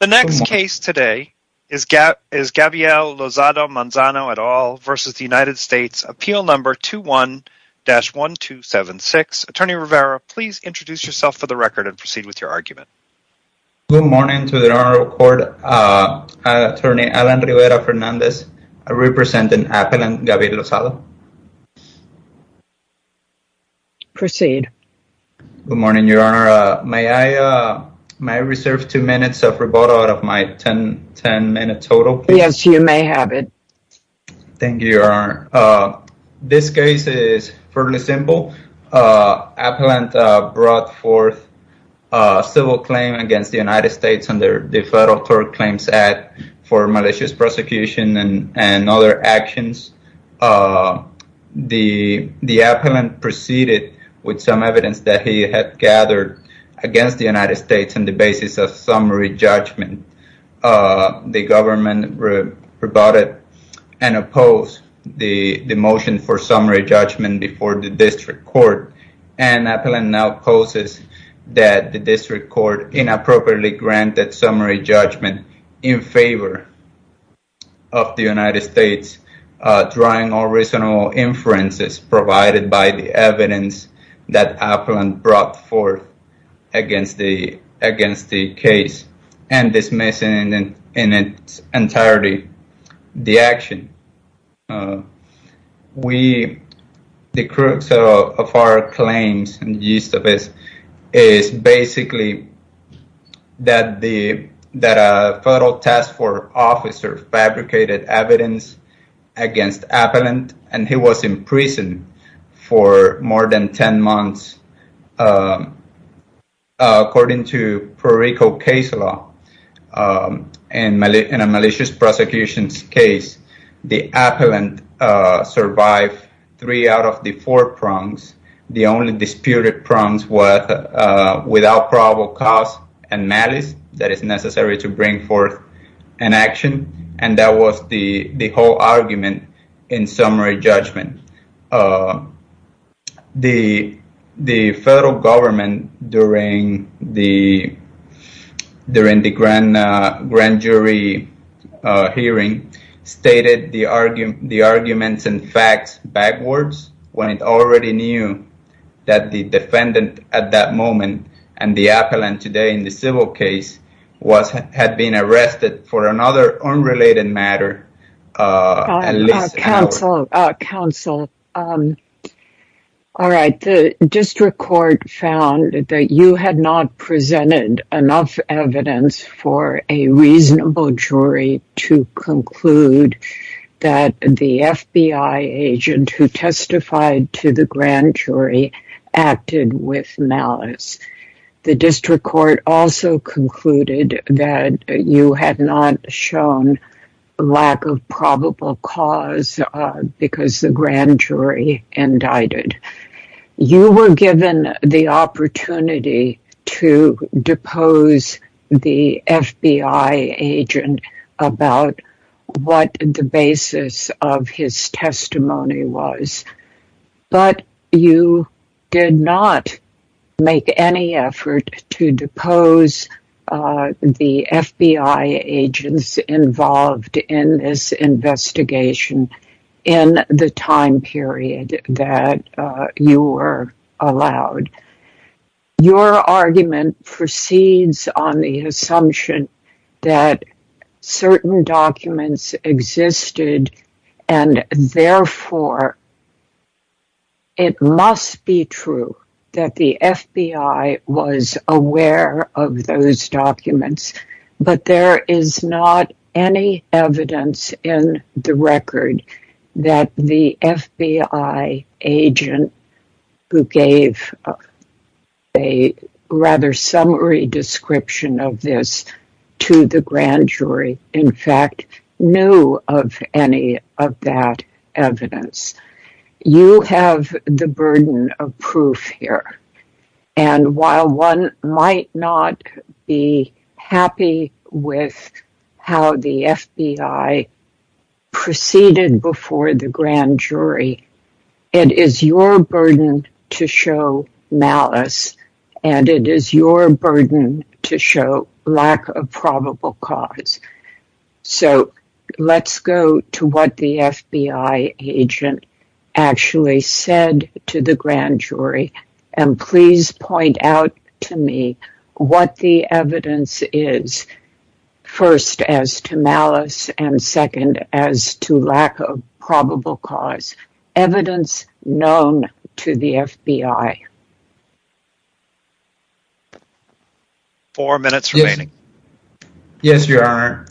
The next case today is Gabrielle Lozada-Manzano et al. v. United States, appeal number 21-1276. Attorney Rivera, please introduce yourself for the record and proceed with your argument. Good morning to the Honorable Court. Attorney Alan Rivera Fernandez, representing Appellant Gabrielle Lozada. Proceed. Good morning, Your Honor. May I reserve two minutes of rebuttal out of my ten-minute total? Yes, you may have it. Thank you, Your Honor. This case is fairly simple. Appellant brought forth a civil claim against the United States under the Federal Tort Claims Act for malicious prosecution and other actions. The appellant proceeded with some evidence that he had gathered against the United States on the basis of summary judgment. The government rebutted and opposed the motion for summary judgment before the district court. And Appellant now poses that the district court inappropriately granted summary judgment in favor of the United States, drawing all reasonable inferences provided by the evidence that Appellant brought forth against the case and dismissing in its entirety the action. The crux of our claims is basically that a federal task force officer fabricated evidence against Appellant, and he was in prison for more than ten months. According to Pro Reco case law, in a malicious prosecution case, the appellant survived three out of the four prongs. The only disputed prongs were without probable cause and malice that is necessary to bring forth an action. And that was the whole argument in summary judgment. The federal government, during the grand jury hearing, stated the arguments and facts backwards when it already knew that the defendant at that moment and the appellant today in the civil case had been arrested for another unrelated matter. Counsel, the district court found that you had not presented enough evidence for a reasonable jury to conclude that the FBI agent who testified to the grand jury acted with malice. The district court also concluded that you had not shown lack of probable cause because the grand jury indicted. You were given the opportunity to depose the FBI agent about what the basis of his testimony was. But you did not make any effort to depose the FBI agents involved in this investigation in the time period that you were allowed. Your argument proceeds on the assumption that certain documents existed and therefore it must be true that the FBI was aware of those documents. But there is not any evidence in the record that the FBI agent who gave a rather summary description of this to the grand jury in fact knew of any of that evidence. You have the burden of proof here and while one might not be happy with how the FBI proceeded before the grand jury, it is your burden to show malice and it is your burden to show lack of probable cause. So let's go to what the FBI agent actually said to the grand jury and please point out to me what the evidence is. First as to malice and second as to lack of probable cause. Evidence known to the FBI. Four minutes remaining. Yes, your honor.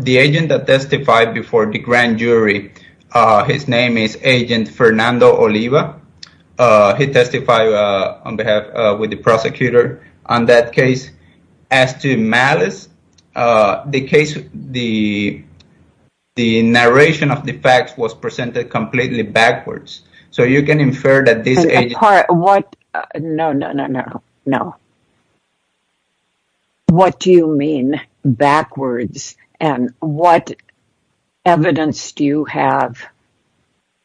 The agent that testified before the grand jury, his name is agent Fernando Oliva. He testified on behalf with the prosecutor on that case. As to malice, the narration of the facts was presented completely backwards. No, no, no, no. What do you mean backwards and what evidence do you have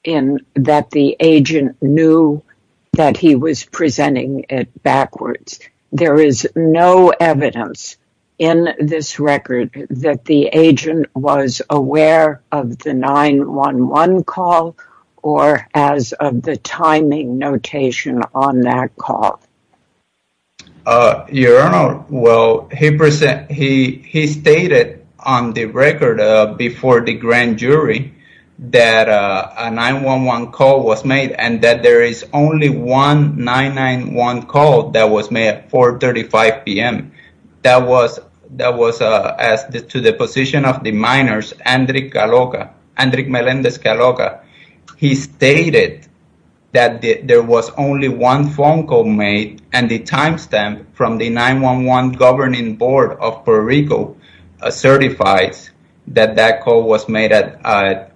in that the agent knew that he was presenting it backwards? There is no evidence in this record that the agent was aware of the 911 call or as of the timing notation on that call. Your honor, he stated on the record before the grand jury that a 911 call was made and that there is only one 911 call that was made at 435 p.m. That was that was as to the position of the minors. Andrey Galoka, Andrey Melendez Galoka. He stated that there was only one phone call made and the timestamp from the 911 governing board of Puerto Rico certifies that that call was made at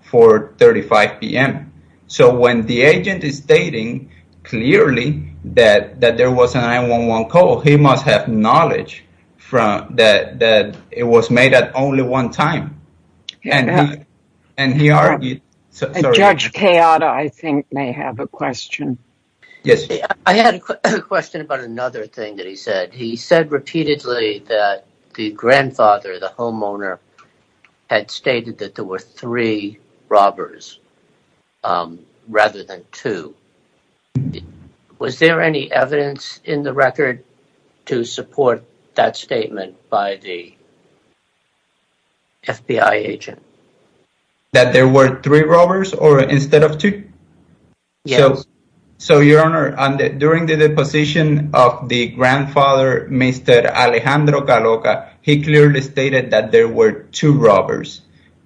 435 p.m. So when the agent is stating clearly that that there was a 911 call, he must have knowledge from that that it was made at only one time. And and he argued. Judge Kayada, I think may have a question. Yes. I had a question about another thing that he said. He said repeatedly that the grandfather, the homeowner, had stated that there were three robbers rather than two. Was there any evidence in the record to support that statement by the. FBI agent. That there were three robbers or instead of two. So your honor, during the deposition of the grandfather, Mr. Alejandro Galoka, he clearly stated that there were two robbers.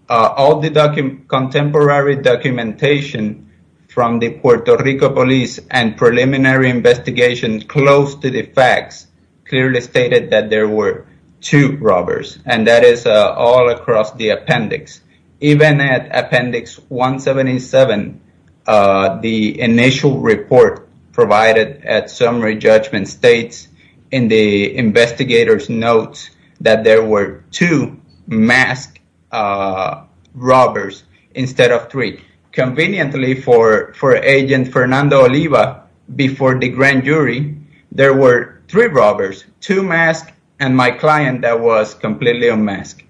All the contemporary documentation from the Puerto Rico police and preliminary investigations close to the facts clearly stated that there were two robbers. And that is all across the appendix. Even at appendix 177, the initial report provided at summary judgment states in the investigators notes that there were two mask robbers instead of three. Conveniently for for agent Fernando Oliva before the grand jury, there were three robbers, two masks and my client that was completely unmasked.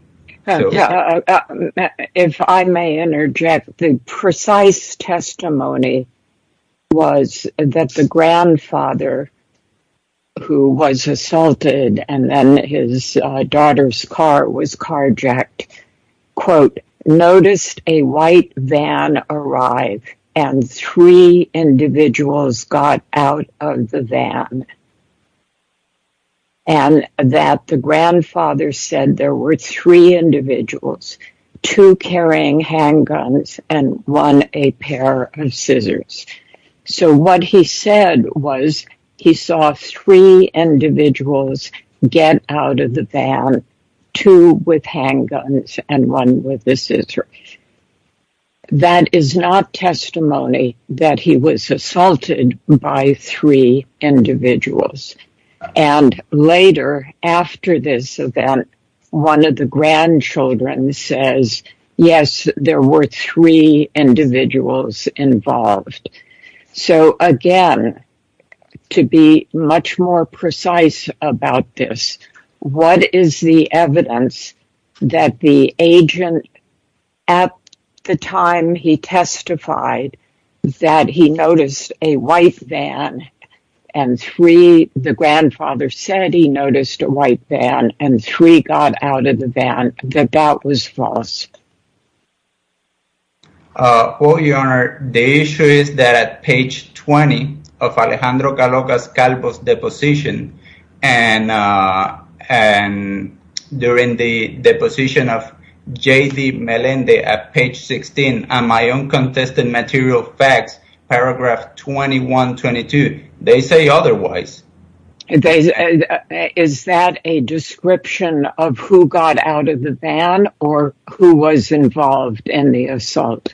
If I may interject, the precise testimony was that the grandfather. Who was assaulted and then his daughter's car was carjacked, quote, noticed a white van arrive and three individuals got out of the van. And that the grandfather said there were three individuals, two carrying handguns and one a pair of scissors. So what he said was he saw three individuals get out of the van, two with handguns and one with a scissor. That is not testimony that he was assaulted by three individuals. And later after this event, one of the grandchildren says, yes, there were three individuals involved. So, again, to be much more precise about this, what is the evidence that the agent at the time he testified that he noticed a white van and three? The grandfather said he noticed a white van and three got out of the van. The doubt was false. Well, your honor, the issue is that at page 20 of Alejandro Galocas Calvo's deposition and and during the deposition of J.D. Melendez at page 16 and my own contested material facts, paragraph 21, 22, they say otherwise. Is that a description of who got out of the van or who was involved in the assault?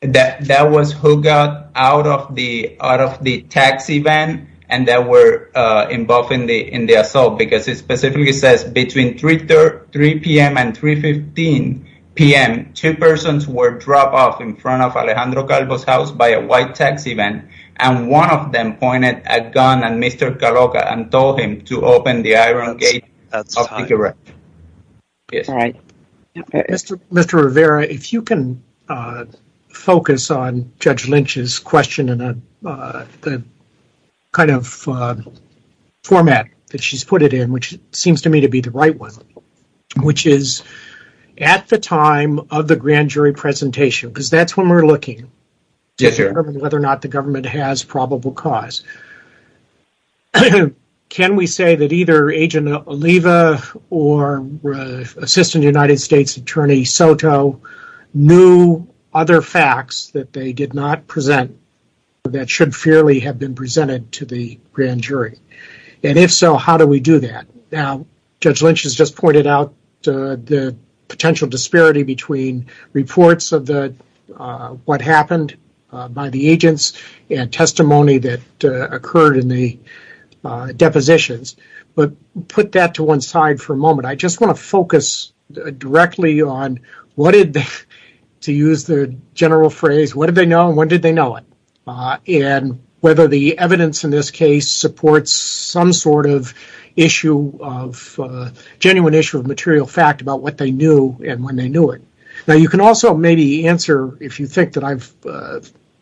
That was who got out of the out of the taxi van and that were involved in the in the assault, because it specifically says between three, three p.m. and three fifteen p.m. Two persons were dropped off in front of Alejandro Calvo's house by a white taxi van. And one of them pointed a gun at Mr. Galocas and told him to open the iron gate. All right, Mr. Mr. Rivera, if you can focus on Judge Lynch's question and the kind of format that she's put it in, which seems to me to be the right one, which is at the time of the grand jury presentation, because that's when we're looking to determine whether or not the government has probable cause. Can we say that either Agent Oliva or Assistant United States Attorney Soto knew other facts that they did not present that should fairly have been presented to the grand jury? And if so, how do we do that? Now, Judge Lynch has just pointed out the potential disparity between reports of the what happened by the agents and testimony that occurred in the depositions. But put that to one side for a moment. I just want to focus directly on what did they, to use the general phrase, what did they know and when did they know it? And whether the evidence in this case supports some sort of issue of genuine issue of material fact about what they knew and when they knew it. Now, you can also maybe answer if you think that I've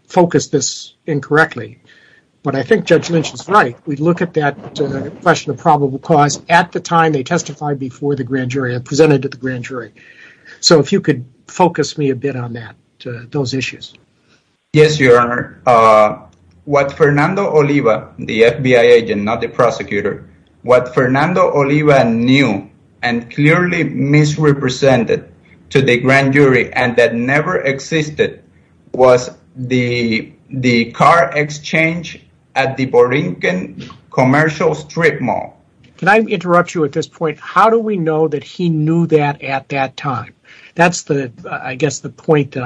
focused this incorrectly. But I think Judge Lynch is right. We look at that question of probable cause at the time they testified before the grand jury and presented to the grand jury. So if you could focus me a bit on that, those issues. Yes, Your Honor. What Fernando Oliva, the FBI agent, not the prosecutor, what Fernando Oliva knew and clearly misrepresented to the grand jury and that never existed was the car exchange at the Borinquen Commercial Strip Mall. Can I interrupt you at this point? How do we know that he knew that at that time? That's the, I guess, the point that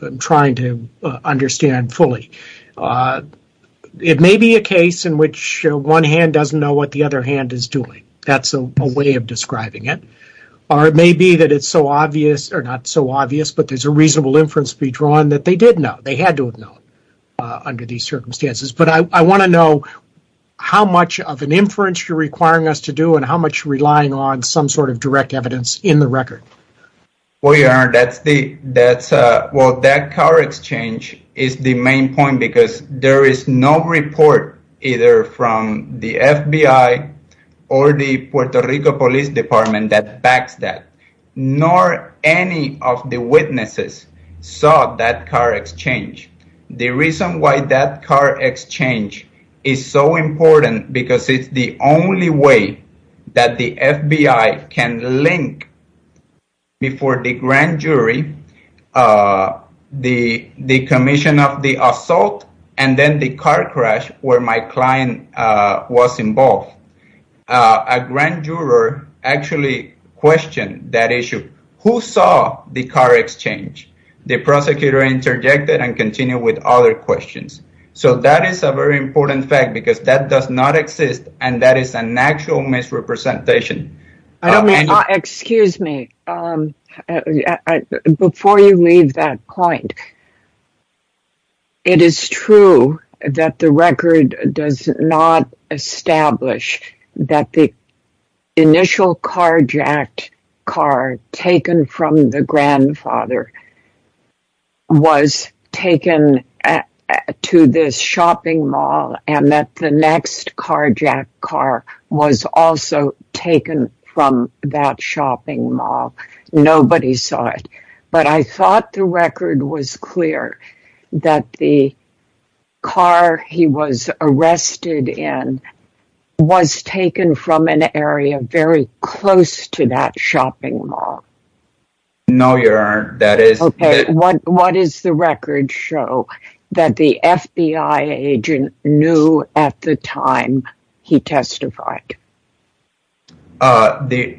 I'm trying to understand fully. It may be a case in which one hand doesn't know what the other hand is doing. That's a way of describing it. Or it may be that it's so obvious, or not so obvious, but there's a reasonable inference to be drawn that they did know. They had to have known under these circumstances. But I want to know how much of an inference you're requiring us to do and how much relying on some sort of direct evidence in the record. Well, Your Honor, that car exchange is the main point because there is no report either from the FBI or the Puerto Rico Police Department that backs that. Nor any of the witnesses saw that car exchange. The reason why that car exchange is so important because it's the only way that the FBI can link before the grand jury the commission of the assault and then the car crash where my client was involved. A grand juror actually questioned that issue. Who saw the car exchange? The prosecutor interjected and continued with other questions. So that is a very important fact because that does not exist and that is an actual misrepresentation. Excuse me, before you leave that point, it is true that the record does not establish that the initial carjacked car taken from the grandfather was taken to this shopping mall. And that the next carjacked car was also taken from that shopping mall. Nobody saw it. But I thought the record was clear that the car he was arrested in was taken from an area very close to that shopping mall. No, Your Honor. What does the record show that the FBI agent knew at the time he testified? At the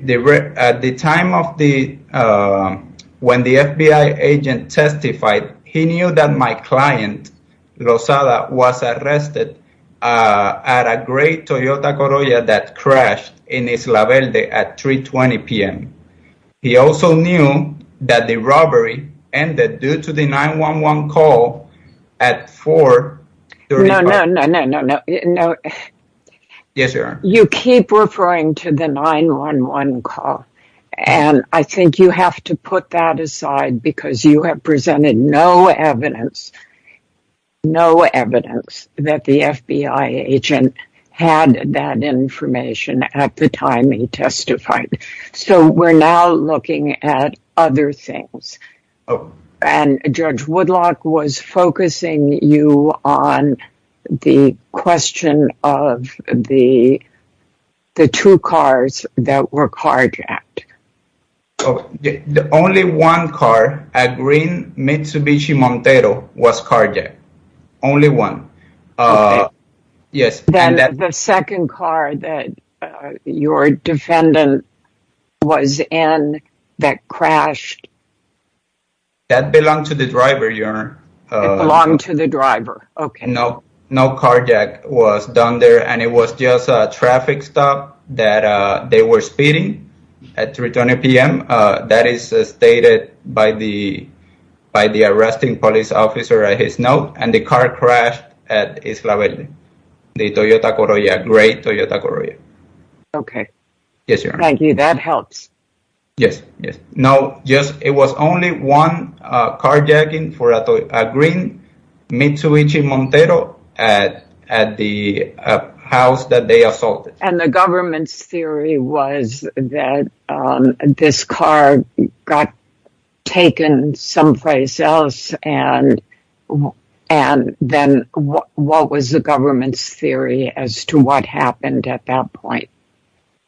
time when the FBI agent testified, he knew that my client, Rosada, was arrested at a great Toyota Corolla that crashed in Isla Velde at 3.20 p.m. He also knew that the robbery ended due to the 9-1-1 call at 4.35 p.m. No, no, no, no, no. Yes, Your Honor. You keep referring to the 9-1-1 call. And I think you have to put that aside because you have presented no evidence, no evidence that the FBI agent had that information at the time he testified. So we're now looking at other things. And Judge Woodlock was focusing you on the question of the two cars that were carjacked. Only one car at Green Mitsubishi Montero was carjacked. Only one. Yes. Then the second car that your defendant was in that crashed. That belonged to the driver, Your Honor. It belonged to the driver. Okay. No carjacking was done there. And it was just a traffic stop that they were speeding at 3.20 p.m. That is stated by the arresting police officer at his note. And the car crashed at Isla Valle. The Toyota Corolla. Great Toyota Corolla. Okay. Yes, Your Honor. Thank you. That helps. Yes, yes. No, it was only one carjacking for a Green Mitsubishi Montero at the house that they assaulted. And the government's theory was that this car got taken someplace else. And then what was the government's theory as to what happened at that point?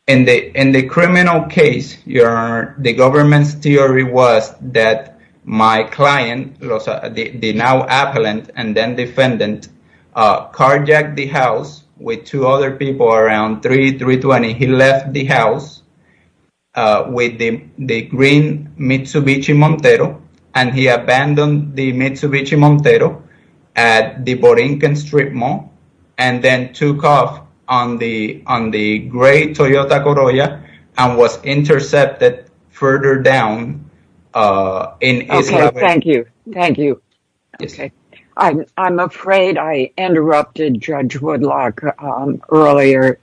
In the criminal case, Your Honor, the government's theory was that my client, the now appellant and then defendant, carjacked the house with two other people around 3, 3.20. He left the house with the Green Mitsubishi Montero and he abandoned the Mitsubishi Montero at the Borinquen Street Mall and then took off on the Great Toyota Corolla and was intercepted further down in Isla Valle. Okay, thank you. Thank you. Okay. I'm afraid I interrupted Judge Woodlock earlier,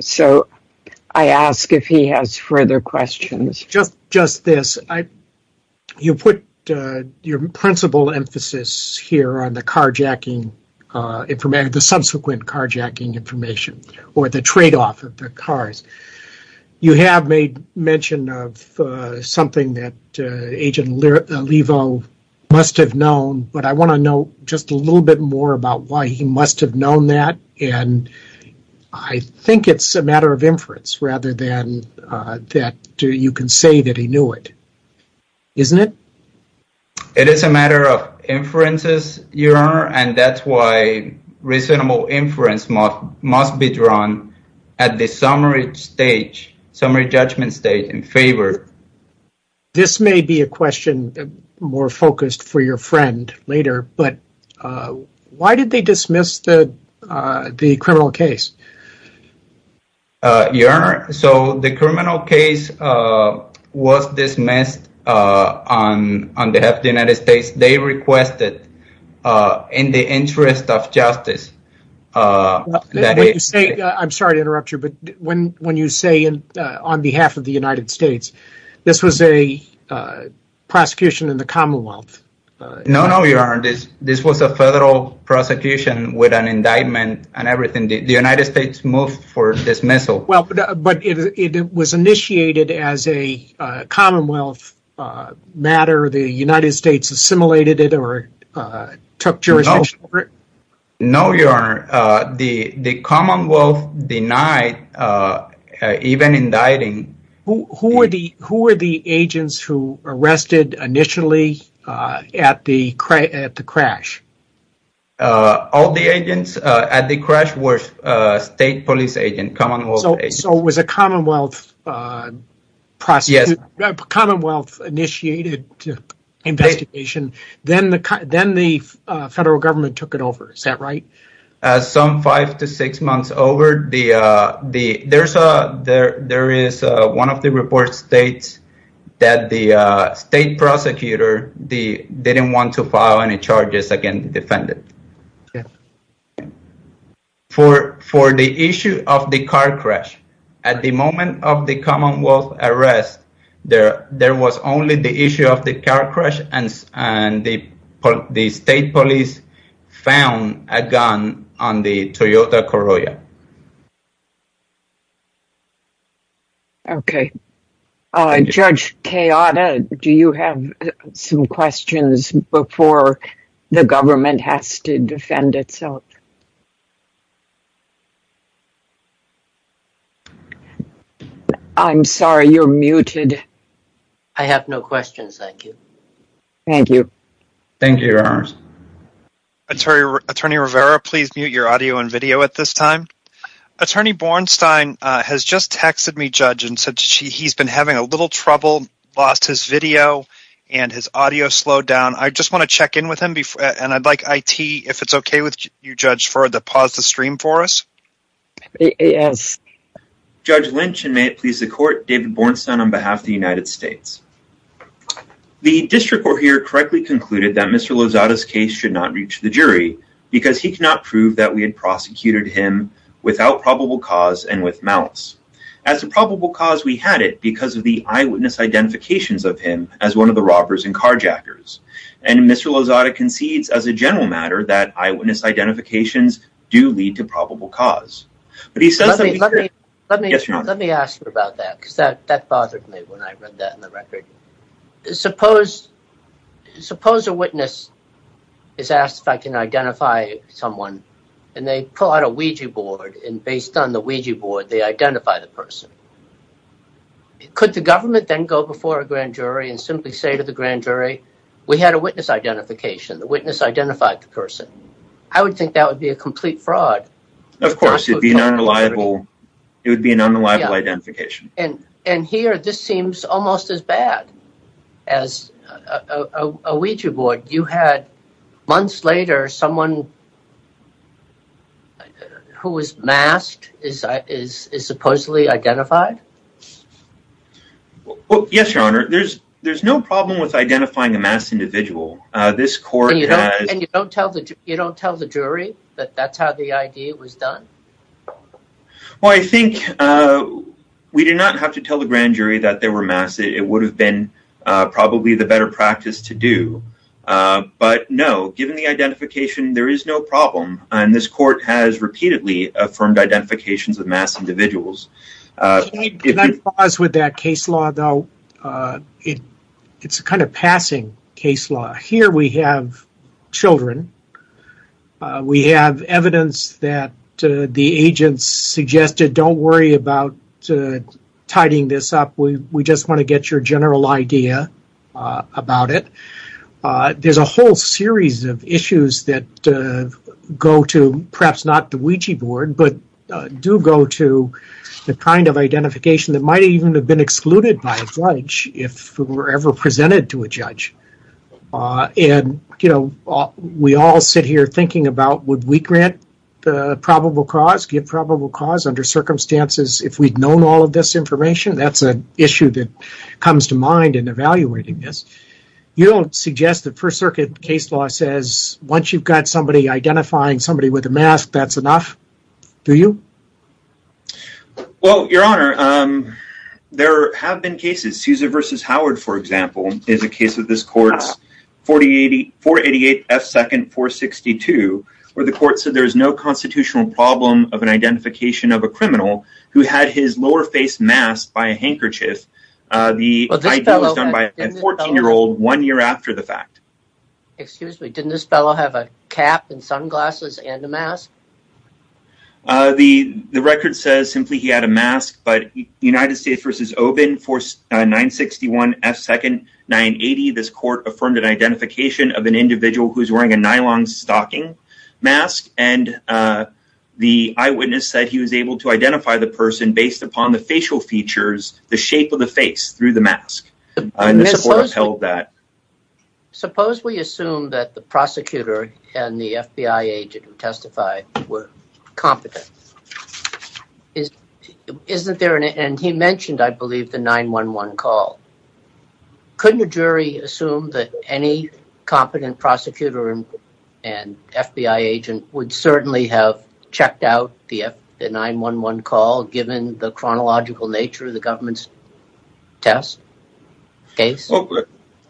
so I ask if he has further questions. Just this. You put your principal emphasis here on the carjacking, the subsequent carjacking information or the tradeoff of the cars. You have made mention of something that Agent Olivo must have known. But I want to know just a little bit more about why he must have known that. And I think it's a matter of inference rather than that you can say that he knew it, isn't it? And that's why reasonable inference must be drawn at the summary stage, summary judgment stage in favor. This may be a question more focused for your friend later, but why did they dismiss the criminal case? Your Honor, so the criminal case was dismissed on behalf of the United States. They requested in the interest of justice. I'm sorry to interrupt you, but when you say on behalf of the United States, this was a prosecution in the Commonwealth. No, no, Your Honor. This was a federal prosecution with an indictment and everything. The United States moved for dismissal. Well, but it was initiated as a Commonwealth matter. The United States assimilated it or took jurisdiction over it. No, Your Honor. The Commonwealth denied even indicting. Who were the agents who arrested initially at the crash? All the agents at the crash were state police agents, Commonwealth agents. So it was a Commonwealth initiated investigation. Then the federal government took it over. Is that right? Some five to six months over. There is one of the reports states that the state prosecutor didn't want to file any charges against the defendant. For the issue of the car crash, at the moment of the Commonwealth arrest, there was only the issue of the car crash. And the state police found a gun on the Toyota Corolla. OK, Judge Keota, do you have some questions before the government has to defend itself? I'm sorry, you're muted. I have no questions. Thank you. Thank you. Thank you, Your Honor. Attorney Rivera, please mute your audio and video at this time. Attorney Bornstein has just texted me, Judge, and said he's been having a little trouble, lost his video, and his audio slowed down. I just want to check in with him, and I'd like IT, if it's OK with you, Judge, to pause the stream for us. Yes. Judge Lynch, and may it please the court, David Bornstein on behalf of the United States. The district court here correctly concluded that Mr. Lozada's case should not reach the jury because he cannot prove that we had prosecuted him without probable cause and with malice. As to probable cause, we had it because of the eyewitness identifications of him as one of the robbers and carjackers. And Mr. Lozada concedes, as a general matter, that eyewitness identifications do lead to probable cause. Let me ask you about that, because that bothered me when I read that in the record. Suppose a witness is asked if I can identify someone, and they pull out a Ouija board, and based on the Ouija board, they identify the person. Could the government then go before a grand jury and simply say to the grand jury, we had a witness identification. The witness identified the person. I would think that would be a complete fraud. Of course, it would be an unreliable identification. And here, this seems almost as bad as a Ouija board. You had, months later, someone who was masked is supposedly identified? Yes, Your Honor. There's no problem with identifying a masked individual. And you don't tell the jury that that's how the ID was done? Well, I think we did not have to tell the grand jury that they were masked. It would have been probably the better practice to do. But no, given the identification, there is no problem. And this court has repeatedly affirmed identifications of masked individuals. Can I pause with that case law, though? It's a kind of passing case law. Here we have children. We have evidence that the agents suggested, don't worry about tidying this up. We just want to get your general idea about it. There's a whole series of issues that go to, perhaps not the Ouija board, but do go to the kind of identification that might even have been excluded by a judge if it were ever presented to a judge. And we all sit here thinking about, would we grant the probable cause, give probable cause under circumstances if we'd known all of this information? That's an issue that comes to mind in evaluating this. You don't suggest that First Circuit case law says, once you've got somebody identifying somebody with a mask, that's enough, do you? Well, Your Honor, there have been cases. Sousa v. Howard, for example, is a case of this court's 488 F. 2nd 462, where the court said there is no constitutional problem of an identification of a criminal who had his lower face masked by a handkerchief. The ID was done by a 14-year-old one year after the fact. Excuse me, didn't this fellow have a cap and sunglasses and a mask? The record says simply he had a mask, but United States v. Oban, 961 F. 2nd 980, this court affirmed an identification of an individual who is wearing a nylon stocking mask, and the eyewitness said he was able to identify the person based upon the facial features, the shape of the face, through the mask. And this court upheld that. Suppose we assume that the prosecutor and the FBI agent who testified were competent. And he mentioned, I believe, the 911 call. Couldn't a jury assume that any competent prosecutor and FBI agent would certainly have checked out the 911 call given the chronological nature of the government's test case?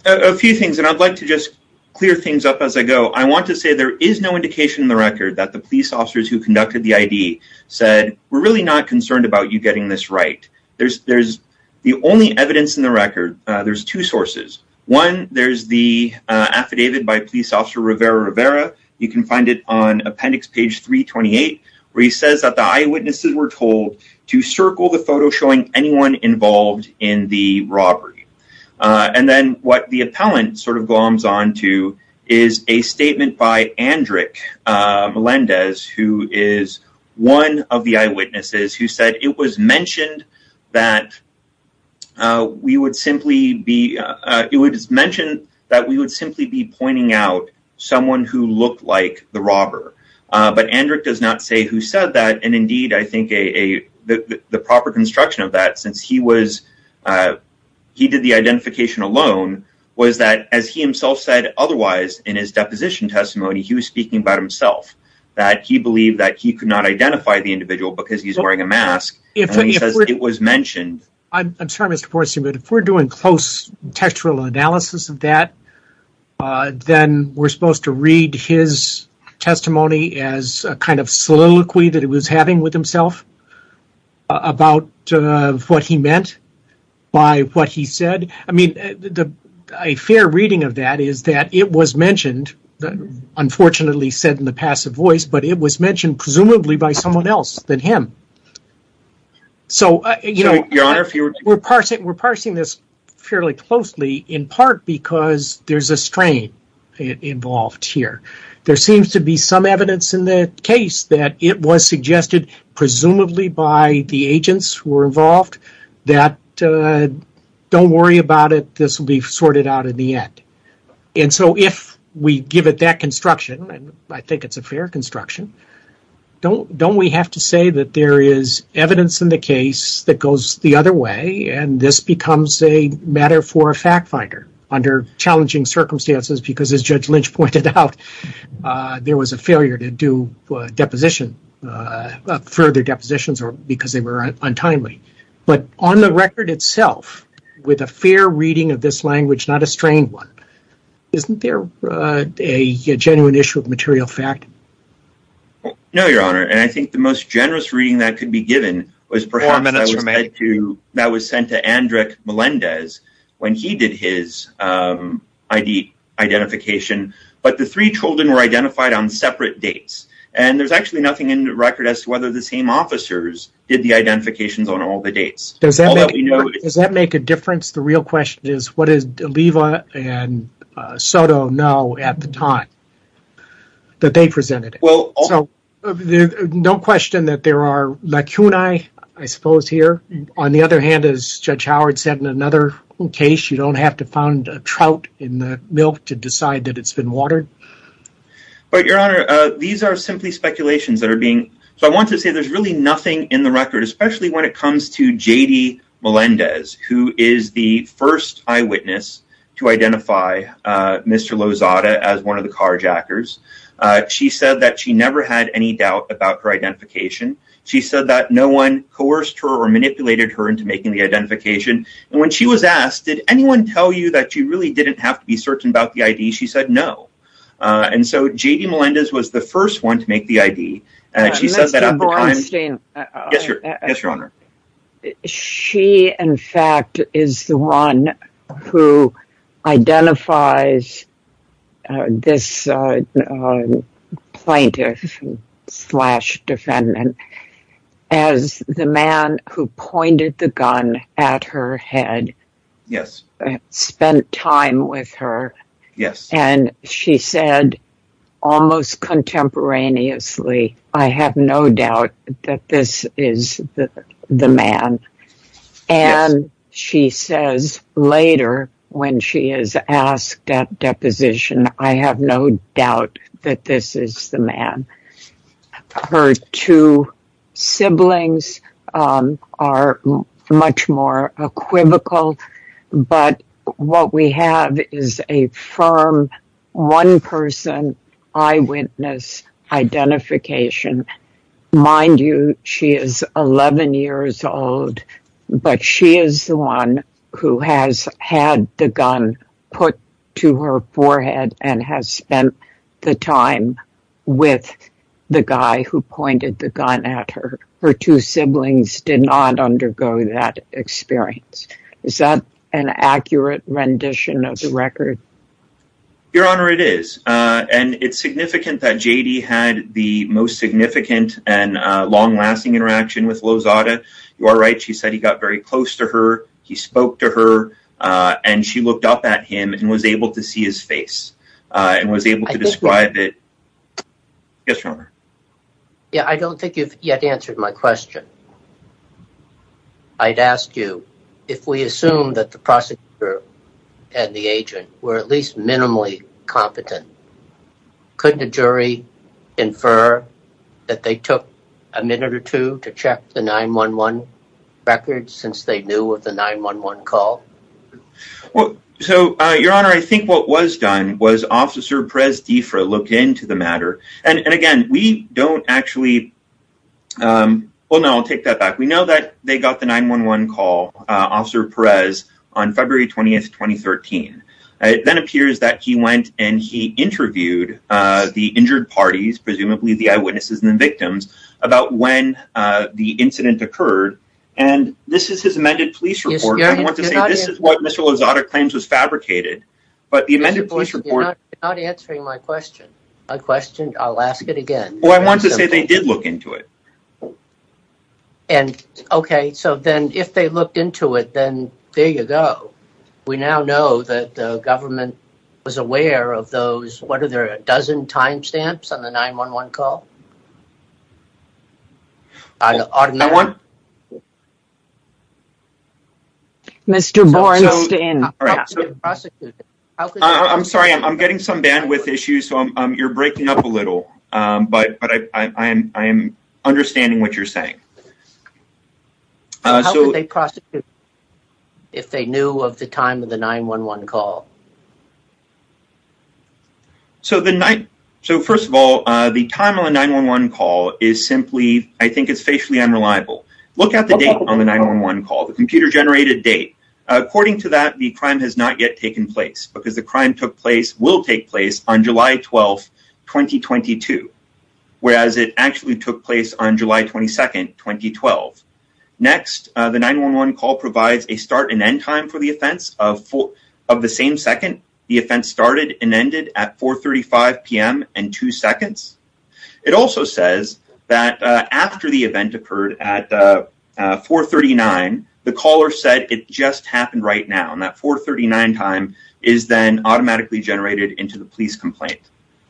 A few things, and I'd like to just clear things up as I go. I want to say there is no indication in the record that the police officers who conducted the ID said, we're really not concerned about you getting this right. There's the only evidence in the record. There's two sources. One, there's the affidavit by police officer Rivera Rivera. You can find it on appendix page 328, where he says that the eyewitnesses were told to circle the photo showing anyone involved in the robbery. And then what the appellant sort of gloms on to is a statement by Andrick Melendez, who is one of the eyewitnesses who said, It was mentioned that we would simply be pointing out someone who looked like the robber. But Andrick does not say who said that. And indeed, I think the proper construction of that, since he did the identification alone, was that as he himself said otherwise in his deposition testimony, he was speaking about himself, that he believed that he could not identify the individual because he's wearing a mask. It was mentioned. I'm sorry, Mr. Porcy, but if we're doing close textual analysis of that, then we're supposed to read his testimony as a kind of soliloquy that he was having with himself about what he meant by what he said. A fair reading of that is that it was mentioned, unfortunately said in the passive voice, but it was mentioned presumably by someone else than him. We're parsing this fairly closely in part because there's a strain involved here. There seems to be some evidence in the case that it was suggested presumably by the agents who were involved that don't worry about it, this will be sorted out in the end. And so if we give it that construction, and I think it's a fair construction, don't we have to say that there is evidence in the case that goes the other way and this becomes a matter for a fact finder under challenging circumstances because as Judge Lynch pointed out, there was a failure to do further depositions because they were untimely. But on the record itself, with a fair reading of this language, not a strained one, isn't there a genuine issue of material fact? No, Your Honor, and I think the most generous reading that could be given was perhaps that was sent to Andrek Melendez when he did his identification, but the three children were identified on separate dates and there's actually nothing in the record as to whether the same officers did the identifications on all the dates. Does that make a difference? The real question is, what did Oliva and Soto know at the time that they presented it? Don't question that there are lacunae, I suppose here. On the other hand, as Judge Howard said in another case, you don't have to find a trout in the milk to decide that it's been watered. But Your Honor, these are simply speculations that are being... So I want to say there's really nothing in the record, especially when it comes to J.D. Melendez, who is the first eyewitness to identify Mr. Lozada as one of the carjackers. She said that she never had any doubt about her identification. She said that no one coerced her or manipulated her into making the identification. And when she was asked, did anyone tell you that you really didn't have to be certain about the ID? She said no. And so J.D. Melendez was the first one to make the ID. She says that at the time... Mr. Bornstein... Yes, Your Honor. She, in fact, is the one who identifies this plaintiff slash defendant as the man who pointed the gun at her head. Yes. Spent time with her. Yes. And she said, almost contemporaneously, I have no doubt that this is the man. And she says later, when she is asked at deposition, I have no doubt that this is the man. Her two siblings are much more equivocal, but what we have is a firm one-person eyewitness identification. Mind you, she is 11 years old, but she is the one who has had the gun put to her forehead and has spent the time with the guy who pointed the gun at her. Her two siblings did not undergo that experience. Is that an accurate rendition of the record? Your Honor, it is. And it's significant that J.D. had the most significant and long-lasting interaction with Lozada. You are right. She said he got very close to her. He spoke to her. And she looked up at him and was able to see his face and was able to describe it. Yes, Your Honor. Yeah, I don't think you've yet answered my question. I'd ask you, if we assume that the prosecutor and the agent were at least minimally competent, couldn't a jury infer that they took a minute or two to check the 9-1-1 record since they knew of the 9-1-1 call? Well, so, Your Honor, I think what was done was Officer Perez-DiFra looked into the matter. And, again, we don't actually – well, no, I'll take that back. We know that they got the 9-1-1 call, Officer Perez, on February 20, 2013. It then appears that he went and he interviewed the injured parties, presumably the eyewitnesses and the victims, about when the incident occurred. And this is his amended police report. And I want to say this is what Mr. Lozada claims was fabricated. But the amended police report – I'll ask it again. Well, I want to say they did look into it. And, okay, so then if they looked into it, then there you go. We now know that the government was aware of those – what are there, a dozen time stamps on the 9-1-1 call? That one? Mr. Bornstein. I'm sorry. I'm getting some bandwidth issues, so you're breaking up a little. But I am understanding what you're saying. How could they prosecute if they knew of the time of the 9-1-1 call? So, first of all, the time of the 9-1-1 call is simply – I think it's facially unreliable. Look at the date on the 9-1-1 call, the computer-generated date. According to that, the crime has not yet taken place because the crime took place – will take place on July 12, 2022, whereas it actually took place on July 22, 2012. Next, the 9-1-1 call provides a start and end time for the offense. Of the same second, the offense started and ended at 4.35 p.m. and two seconds. It also says that after the event occurred at 4.39, the caller said it just happened right now. And that 4.39 time is then automatically generated into the police complaint.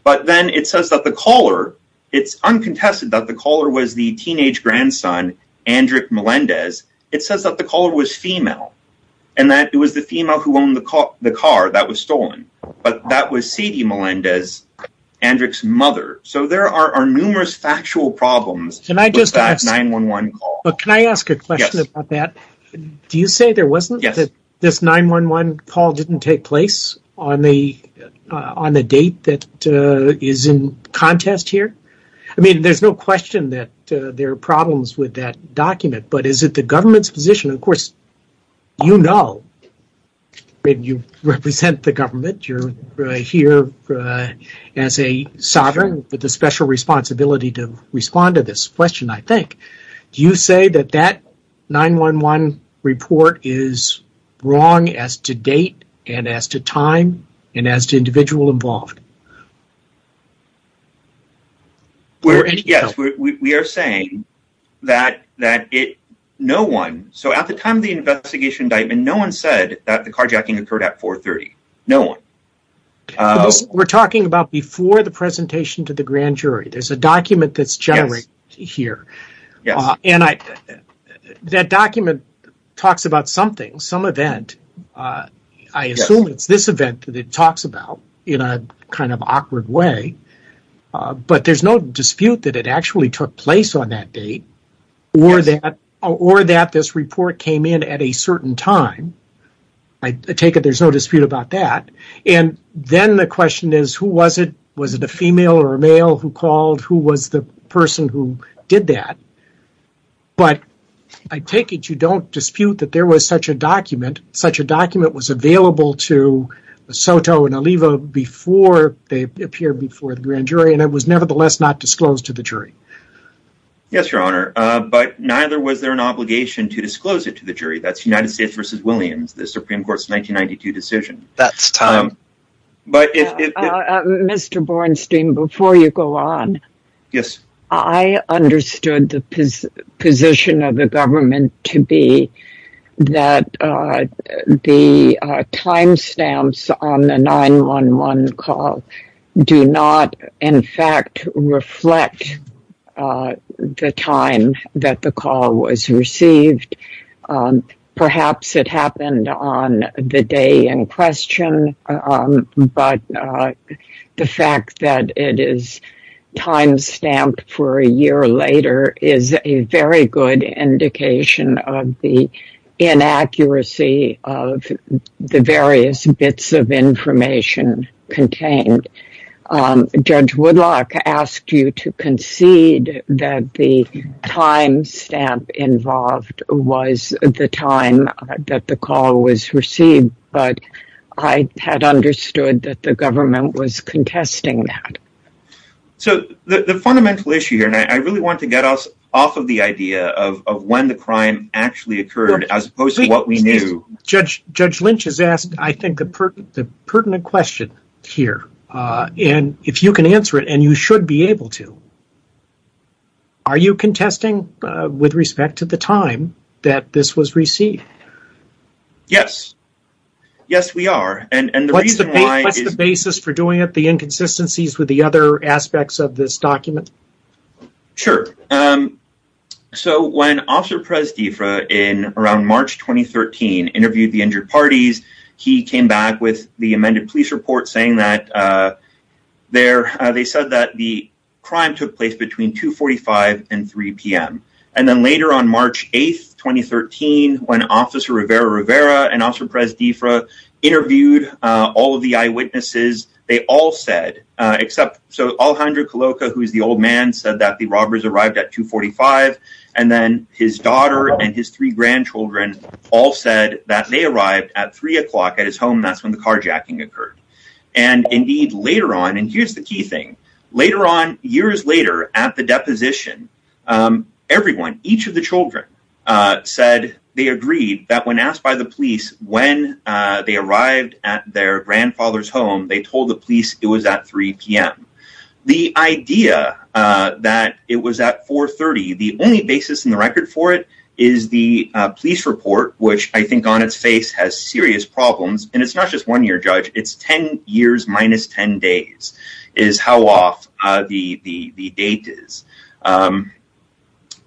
But then it says that the caller – it's uncontested that the caller was the teenage grandson, Andrick Melendez. It says that the caller was female and that it was the female who owned the car that was stolen. But that was C.D. Melendez, Andrick's mother. So there are numerous factual problems with that 9-1-1 call. Can I ask a question about that? Do you say there wasn't – this 9-1-1 call didn't take place on the date that is in contest here? I mean there's no question that there are problems with that document, but is it the government's position? Of course, you know. You represent the government. You're here as a sovereign with a special responsibility to respond to this question, I think. Do you say that that 9-1-1 report is wrong as to date and as to time and as to individual involved? Yes, we are saying that no one – so at the time of the investigation indictment, no one said that the carjacking occurred at 4.30. No one. We're talking about before the presentation to the grand jury. There's a document that's generated here. That document talks about something, some event. I assume it's this event that it talks about in a kind of awkward way. But there's no dispute that it actually took place on that date or that this report came in at a certain time. I take it there's no dispute about that. And then the question is who was it? Was it a female or a male who called? Who was the person who did that? But I take it you don't dispute that there was such a document. Such a document was available to Soto and Oliva before they appeared before the grand jury, and it was nevertheless not disclosed to the jury. Yes, Your Honor, but neither was there an obligation to disclose it to the jury. That's United States v. Williams, the Supreme Court's 1992 decision. That's time. Mr. Bornstein, before you go on. Yes. I understood the position of the government to be that the timestamps on the 911 call do not, in fact, reflect the time that the call was received. Perhaps it happened on the day in question, but the fact that it is timestamped for a year later is a very good indication of the inaccuracy of the various bits of information contained. Judge Woodlock asked you to concede that the timestamp involved was the time that the call was received, but I had understood that the government was contesting that. So the fundamental issue here, and I really want to get us off of the idea of when the crime actually occurred as opposed to what we knew. Judge Lynch has asked, I think, the pertinent question here, and if you can answer it, and you should be able to, are you contesting with respect to the time that this was received? Yes. Yes, we are. What's the basis for doing it, the inconsistencies with the other aspects of this document? Sure. So when Officer Perez-Diffra, in around March 2013, interviewed the injured parties, he came back with the amended police report saying that they said that the crime took place between 2.45 and 3 p.m. And then later on March 8, 2013, when Officer Rivera-Rivera and Officer Perez-Diffra interviewed all of the eyewitnesses, they all said, except Alejandro Caloca, who is the old man, said that the robbers arrived at 2.45, and then his daughter and his three grandchildren all said that they arrived at 3 o'clock at his home. That's when the carjacking occurred. And indeed, later on, and here's the key thing, later on, years later, at the deposition, everyone, each of the children, said they agreed that when asked by the police when they arrived at their grandfather's home, they told the police it was at 3 p.m. The idea that it was at 4.30, the only basis in the record for it is the police report, which I think on its face has serious problems, and it's not just one year, Judge, it's 10 years minus 10 days is how off the date is.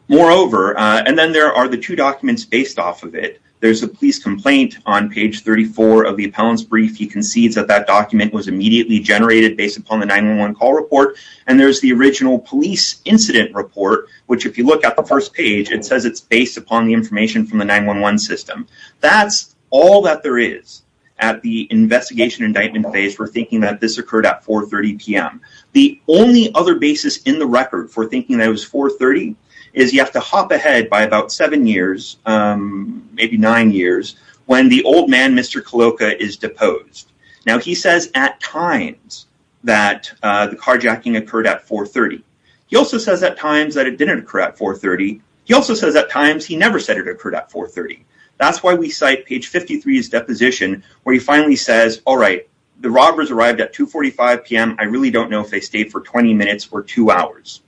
Moreover, and then there are the two documents based off of it, there's a police complaint on page 34 of the appellant's brief. He concedes that that document was immediately generated based upon the 911 call report, and there's the original police incident report, which if you look at the first page, it says it's based upon the information from the 911 system. That's all that there is at the investigation indictment phase for thinking that this occurred at 4.30 p.m. The only other basis in the record for thinking that it was 4.30 is you have to hop ahead by about seven years, maybe nine years, when the old man, Mr. Kaloka, is deposed. Now, he says at times that the carjacking occurred at 4.30. He also says at times that it didn't occur at 4.30. He also says at times he never said it occurred at 4.30. That's why we cite page 53's deposition where he finally says, all right, the robbers arrived at 2.45 p.m. I really don't know if they stayed for 20 minutes or two hours.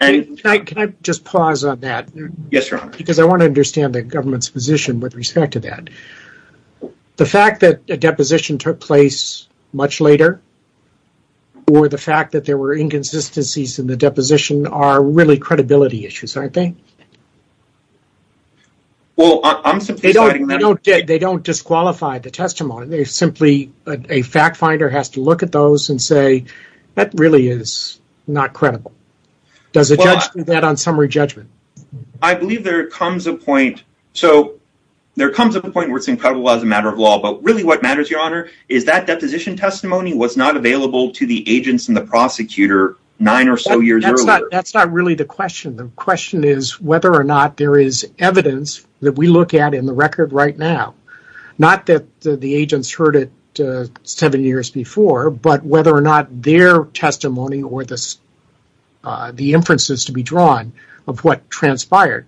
Can I just pause on that? Yes, Your Honor. Because I want to understand the government's position with respect to that. The fact that a deposition took place much later or the fact that there were inconsistencies in the deposition are really credibility issues, aren't they? They don't disqualify the testimony. A fact finder has to look at those and say that really is not credible. Does a judge do that on summary judgment? I believe there comes a point where it's incredible as a matter of law, but really what matters, Your Honor, is that deposition testimony was not available to the agents and the prosecutor nine or so years earlier. That's not really the question. The question is whether or not there is evidence that we look at in the record right now. Not that the agents heard it seven years before, but whether or not their testimony or the inferences to be drawn of what transpired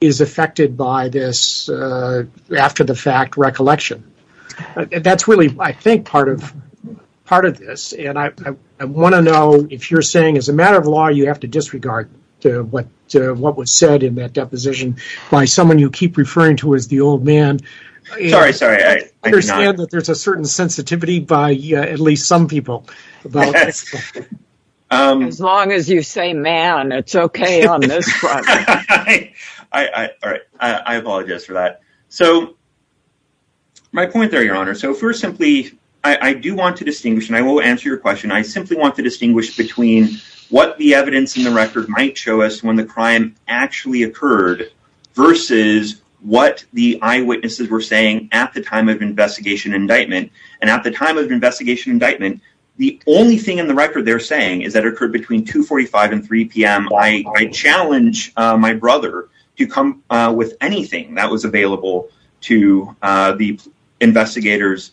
is affected by this after the fact recollection. That's really, I think, part of this. I want to know if you're saying as a matter of law you have to disregard what was said in that deposition by someone you keep referring to as the old man. I understand that there's a certain sensitivity by at least some people. As long as you say man, it's okay on this project. I apologize for that. So my point there, Your Honor, so first simply, I do want to distinguish and I will answer your question. I simply want to distinguish between what the evidence in the record might show us when the crime actually occurred versus what the eyewitnesses were saying at the time of investigation indictment. And at the time of investigation indictment, the only thing in the record they're saying is that occurred between 245 and 3 p.m. I challenge my brother to come with anything that was available to the investigators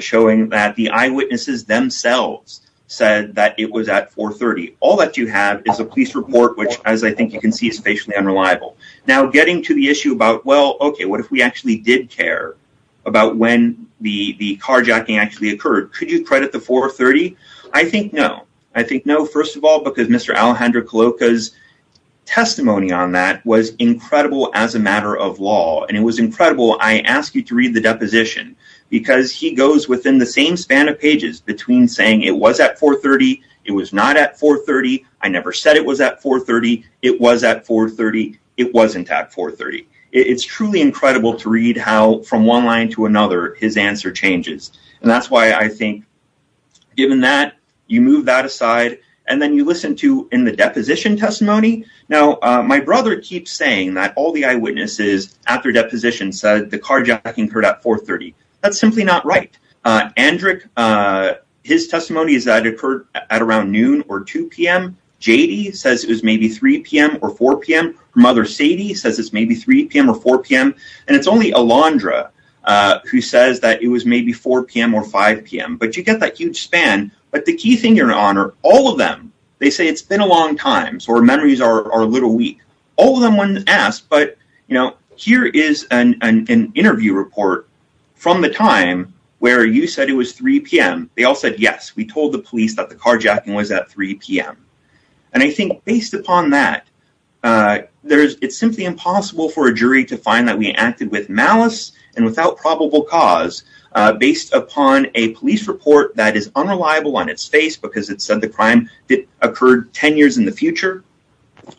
showing that the eyewitnesses themselves said that it was at 430. All that you have is a police report, which, as I think you can see, is facially unreliable. Now, getting to the issue about, well, okay, what if we actually did care about when the carjacking actually occurred? Could you credit the 430? I think no. I think no, first of all, because Mr. Alejandro Coloca's testimony on that was incredible as a matter of law. And it was incredible. I ask you to read the deposition because he goes within the same span of pages between saying it was at 430, it was not at 430. I never said it was at 430. It was at 430. It wasn't at 430. It's truly incredible to read how from one line to another his answer changes. And that's why I think, given that, you move that aside and then you listen to in the deposition testimony. Now, my brother keeps saying that all the eyewitnesses after deposition said the carjacking occurred at 430. That's simply not right. Andrick, his testimony is that it occurred at around noon or 2 p.m. J.D. says it was maybe 3 p.m. or 4 p.m. Mother Sadie says it's maybe 3 p.m. or 4 p.m. And it's only Alondra who says that it was maybe 4 p.m. or 5 p.m. But you get that huge span. But the key thing you're on are all of them. They say it's been a long time. So our memories are a little weak. But, you know, here is an interview report from the time where you said it was 3 p.m. They all said, yes, we told the police that the carjacking was at 3 p.m. And I think based upon that, it's simply impossible for a jury to find that we acted with malice and without probable cause based upon a police report that is unreliable on its face because it said the crime occurred 10 years in the future.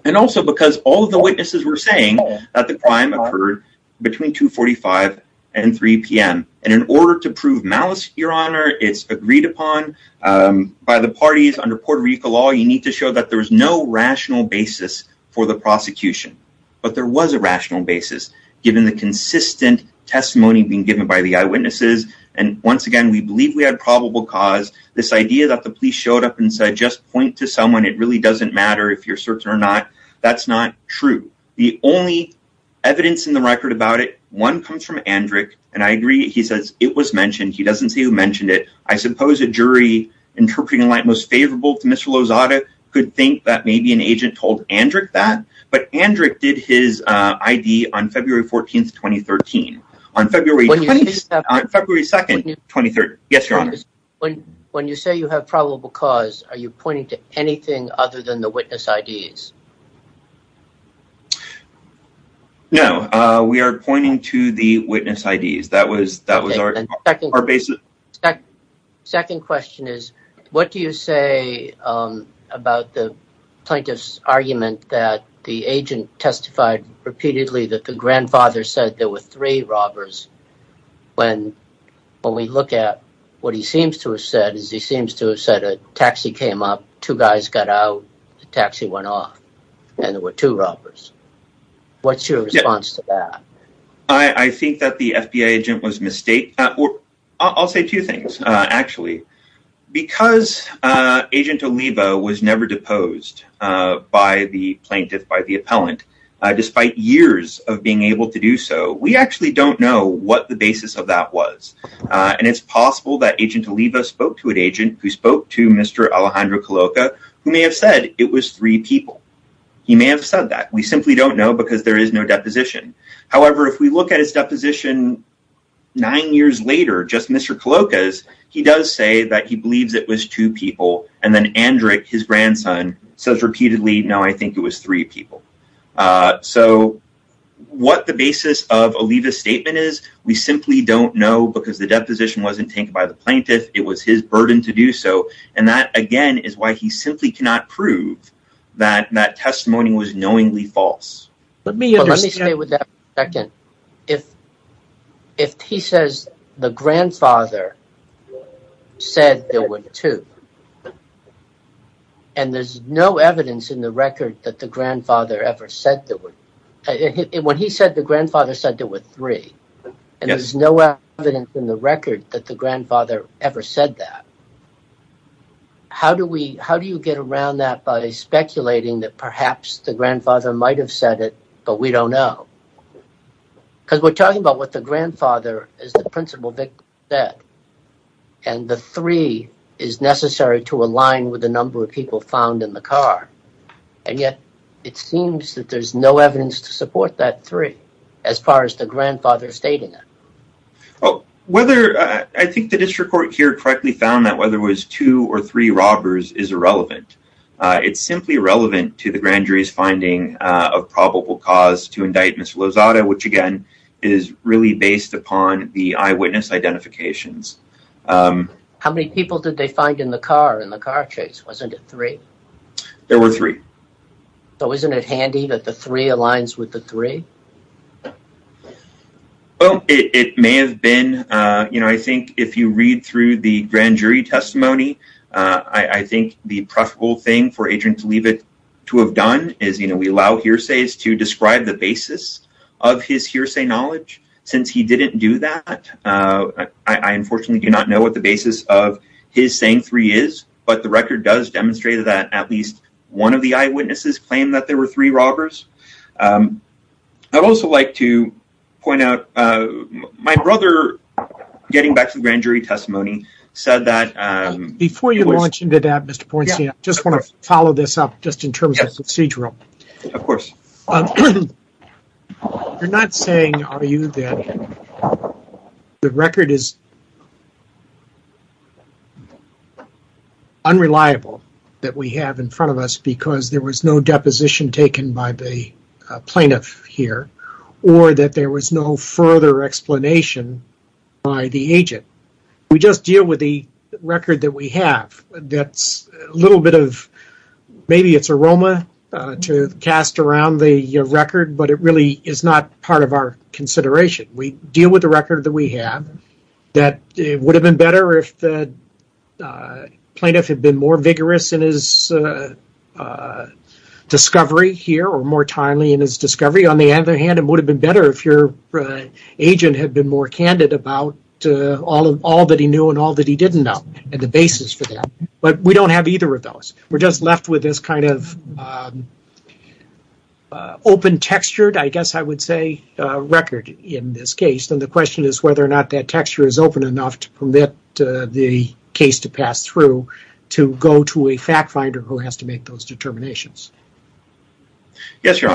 And also because all of the witnesses were saying that the crime occurred between 2 45 and 3 p.m. And in order to prove malice, your honor, it's agreed upon by the parties under Puerto Rico law. You need to show that there is no rational basis for the prosecution. But there was a rational basis given the consistent testimony being given by the eyewitnesses. And once again, we believe we had probable cause. This idea that the police showed up and said, just point to someone. It really doesn't matter if you're certain or not. That's not true. The only evidence in the record about it, one comes from Andrick. And I agree. He says it was mentioned. He doesn't say who mentioned it. I suppose a jury interpreting the light most favorable to Mr. Lozada could think that maybe an agent told Andrick that. But Andrick did his I.D. on February 14th, 2013. On February 2nd, 2013. Yes, your honor. When you say you have probable cause, are you pointing to anything other than the witness I.D.s? No. We are pointing to the witness I.D.s. That was our basis. Second question is, what do you say about the plaintiff's argument that the agent testified repeatedly that the grandfather said there were three robbers? When we look at what he seems to have said, he seems to have said a taxi came up, two guys got out, the taxi went off. And there were two robbers. What's your response to that? I think that the FBI agent was mistaken. I'll say two things, actually. Because agent Oliva was never deposed by the plaintiff, by the appellant, despite years of being able to do so, we actually don't know what the basis of that was. And it's possible that agent Oliva spoke to an agent who spoke to Mr. Alejandro Caloca who may have said it was three people. He may have said that. We simply don't know because there is no deposition. However, if we look at his deposition nine years later, just Mr. Caloca's, he does say that he believes it was two people. And then Andrick, his grandson, says repeatedly, no, I think it was three people. So what the basis of Oliva's statement is, we simply don't know because the deposition wasn't taken by the plaintiff. It was his burden to do so. And that, again, is why he simply cannot prove that that testimony was knowingly false. Let me stay with that for a second. If he says the grandfather said there were two, and there's no evidence in the record that the grandfather ever said there were, when he said the grandfather said there were three, and there's no evidence in the record that the grandfather ever said that, how do you get around that by speculating that perhaps the grandfather might have said it, but we don't know? Because we're talking about what the grandfather, as the principal victim, said. And the three is necessary to align with the number of people found in the car. And yet, it seems that there's no evidence to support that three, as far as the grandfather stating it. I think the district court here correctly found that whether it was two or three robbers is irrelevant. It's simply irrelevant to the grand jury's finding of probable cause to indict Mr. Lozada, which, again, is really based upon the eyewitness identifications. How many people did they find in the car, in the car chase? Wasn't it three? There were three. So isn't it handy that the three aligns with the three? Well, it may have been, you know, I think if you read through the grand jury testimony, I think the preferable thing for Adrian to leave it to have done is, you know, we allow hearsays to describe the basis of his hearsay knowledge. Since he didn't do that, I unfortunately do not know what the basis of his saying three is. But the record does demonstrate that at least one of the eyewitnesses claimed that there were three robbers. I'd also like to point out, my brother, getting back to the grand jury testimony, said that... Before you launch into that, Mr. Pornstein, I just want to follow this up just in terms of procedural. Of course. You're not saying, are you, that the record is unreliable that we have in front of us because there was no deposition taken by the plaintiff here, or that there was no further explanation by the agent. We just deal with the record that we have. That's a little bit of, maybe it's aroma to cast around the record, but it really is not part of our consideration. We deal with the record that we have, that it would have been better if the plaintiff had been more vigorous in his discovery here or more timely in his discovery. On the other hand, it would have been better if your agent had been more candid about all that he knew and all that he didn't know and the basis for that. But we don't have either of those. We're just left with this kind of open textured, I guess I would say, record in this case. And the question is whether or not that texture is open enough to permit the case to pass through to go to a fact finder who has to make those determinations. Yes, Your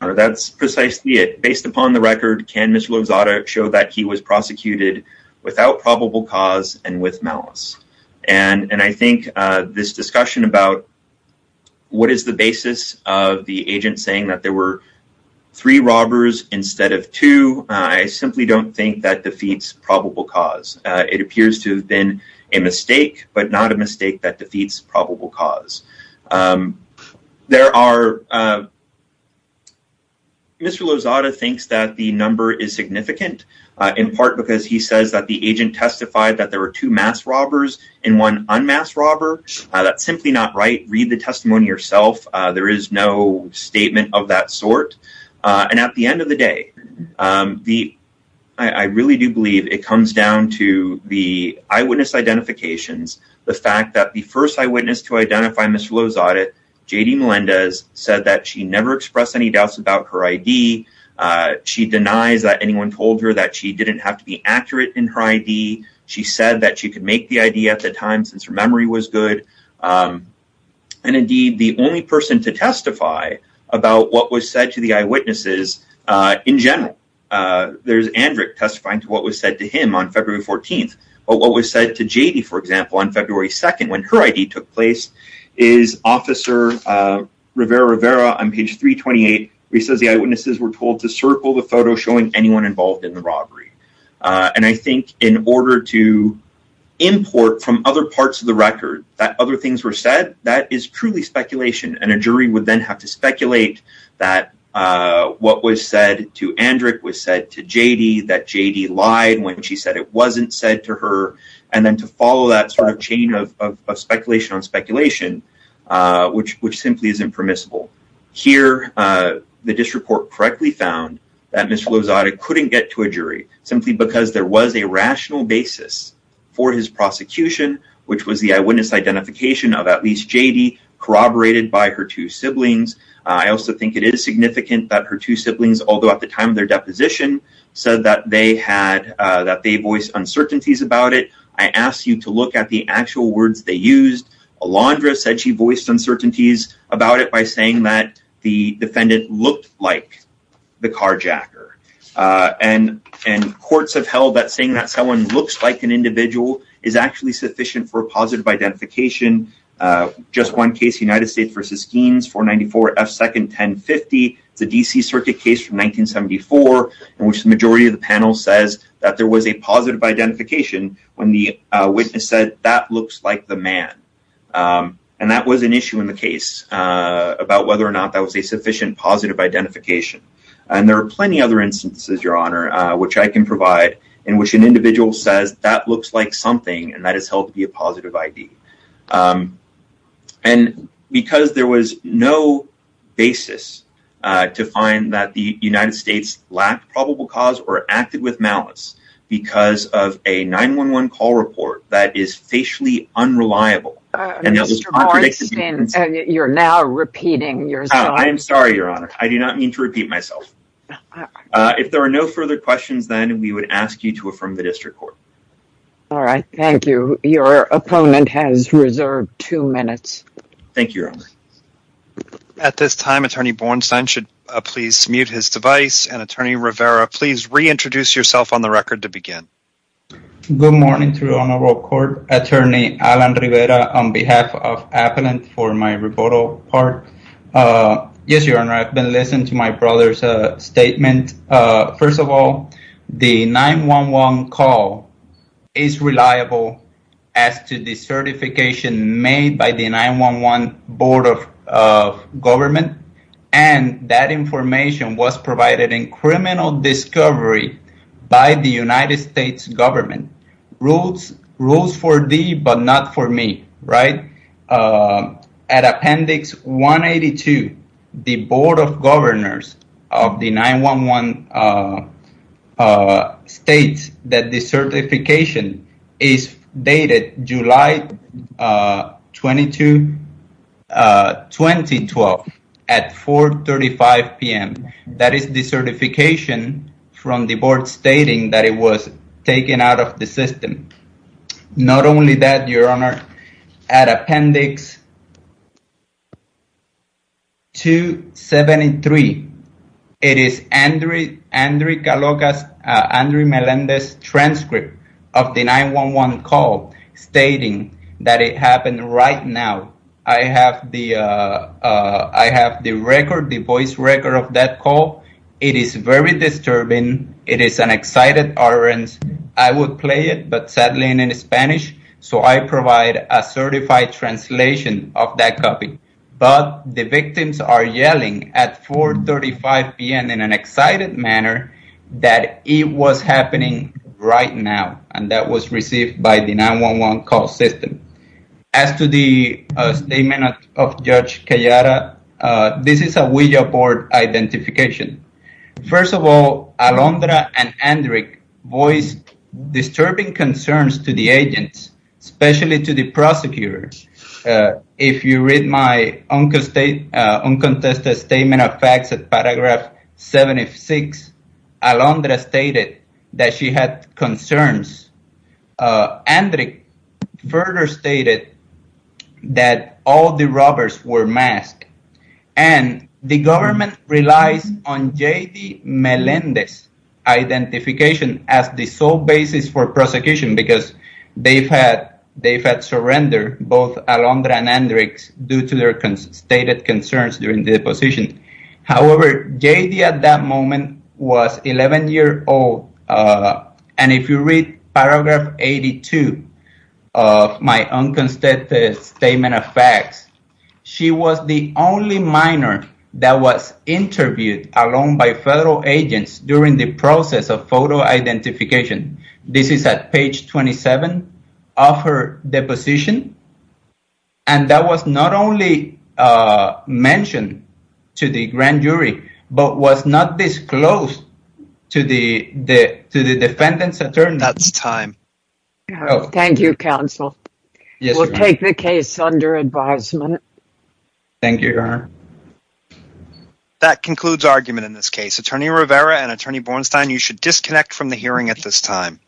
Honor, that's precisely it. Based upon the record, can Mr. Lozada show that he was prosecuted without probable cause and with malice? And I think this discussion about what is the basis of the agent saying that there were three robbers instead of two, I simply don't think that defeats probable cause. It appears to have been a mistake, but not a mistake that defeats probable cause. Mr. Lozada thinks that the number is significant in part because he says that the agent testified that there were two mass robbers and one unmasked robber. That's simply not right. Read the testimony yourself. There is no statement of that sort. And at the end of the day, I really do believe it comes down to the eyewitness identifications. The fact that the first eyewitness to identify Mr. Lozada, J.D. Melendez, said that she never expressed any doubts about her I.D. She denies that anyone told her that she didn't have to be accurate in her I.D. She said that she could make the I.D. at the time since her memory was good. And indeed, the only person to testify about what was said to the eyewitnesses in general, there's Andrick testifying to what was said to him on February 14th. But what was said to J.D., for example, on February 2nd when her I.D. took place is Officer Rivera Rivera on page 328. He says the eyewitnesses were told to circle the photo showing anyone involved in the robbery. And I think in order to import from other parts of the record that other things were said, that is truly speculation. And a jury would then have to speculate that what was said to Andrick was said to J.D., that J.D. lied when she said it wasn't said to her. And then to follow that sort of chain of speculation on speculation, which which simply is impermissible. Here, the district court correctly found that Mr. Lozada couldn't get to a jury simply because there was a rational basis for his prosecution, which was the eyewitness identification of at least J.D. corroborated by her two siblings. I also think it is significant that her two siblings, although at the time of their deposition, said that they had that they voiced uncertainties about it. I asked you to look at the actual words they used. Alondra said she voiced uncertainties about it by saying that the defendant looked like the carjacker. And and courts have held that saying that someone looks like an individual is actually sufficient for a positive identification. Just one case, United States v. Skeens, 494 F. Second, 1050. It's a D.C. circuit case from 1974 in which the majority of the panel says that there was a positive identification when the witness said that looks like the man. And that was an issue in the case about whether or not that was a sufficient positive identification. And there are plenty other instances, Your Honor, which I can provide in which an individual says that looks like something and that is held to be a positive ID. And because there was no basis to find that the United States lacked probable cause or acted with malice because of a 9-1-1 call report that is facially unreliable. And you're now repeating yourself. I'm sorry, Your Honor. I do not mean to repeat myself. If there are no further questions, then we would ask you to affirm the district court. All right. Thank you. Your opponent has reserved two minutes. Thank you, Your Honor. At this time, Attorney Bornstein should please mute his device. And, Attorney Rivera, please reintroduce yourself on the record to begin. Good morning to the Honorable Court. Attorney Alan Rivera on behalf of Appellant for my rebuttal part. Yes, Your Honor. I've been listening to my brother's statement. First of all, the 9-1-1 call is reliable as to the certification made by the 9-1-1 Board of Government. And that information was provided in criminal discovery by the United States government. Rules for thee, but not for me, right? At Appendix 182, the Board of Governors of the 9-1-1 states that the certification is dated July 22, 2012 at 4.35 p.m. That is the certification from the board stating that it was taken out of the system. Not only that, Your Honor. At Appendix 273, it is Andrew Melendez's transcript of the 9-1-1 call stating that it happened right now. I have the record, the voice record of that call. It is very disturbing. It is an excited utterance. I would play it, but sadly in Spanish, so I provide a certified translation of that copy. But the victims are yelling at 4.35 p.m. in an excited manner that it was happening right now. And that was received by the 9-1-1 call system. As to the statement of Judge Cayara, this is a Ouija board identification. First of all, Alondra and Hendrick voiced disturbing concerns to the agents, especially to the prosecutors. If you read my uncontested statement of facts at paragraph 76, Alondra stated that she had concerns. Hendrick further stated that all the robbers were masked. And the government relies on J.D. Melendez's identification as the sole basis for prosecution because they had surrendered both Alondra and Hendrick due to their stated concerns during the deposition. However, J.D. at that moment was 11 years old. And if you read paragraph 82 of my unconstituted statement of facts, she was the only minor that was interviewed alone by federal agents during the process of photo identification. This is at page 27 of her deposition. And that was not only mentioned to the grand jury but was not disclosed to the defendant's attorney. That's time. Thank you, counsel. We'll take the case under advisement. Thank you, Your Honor. That concludes argument in this case. Attorney Rivera and Attorney Bornstein, you should disconnect from the hearing at this time.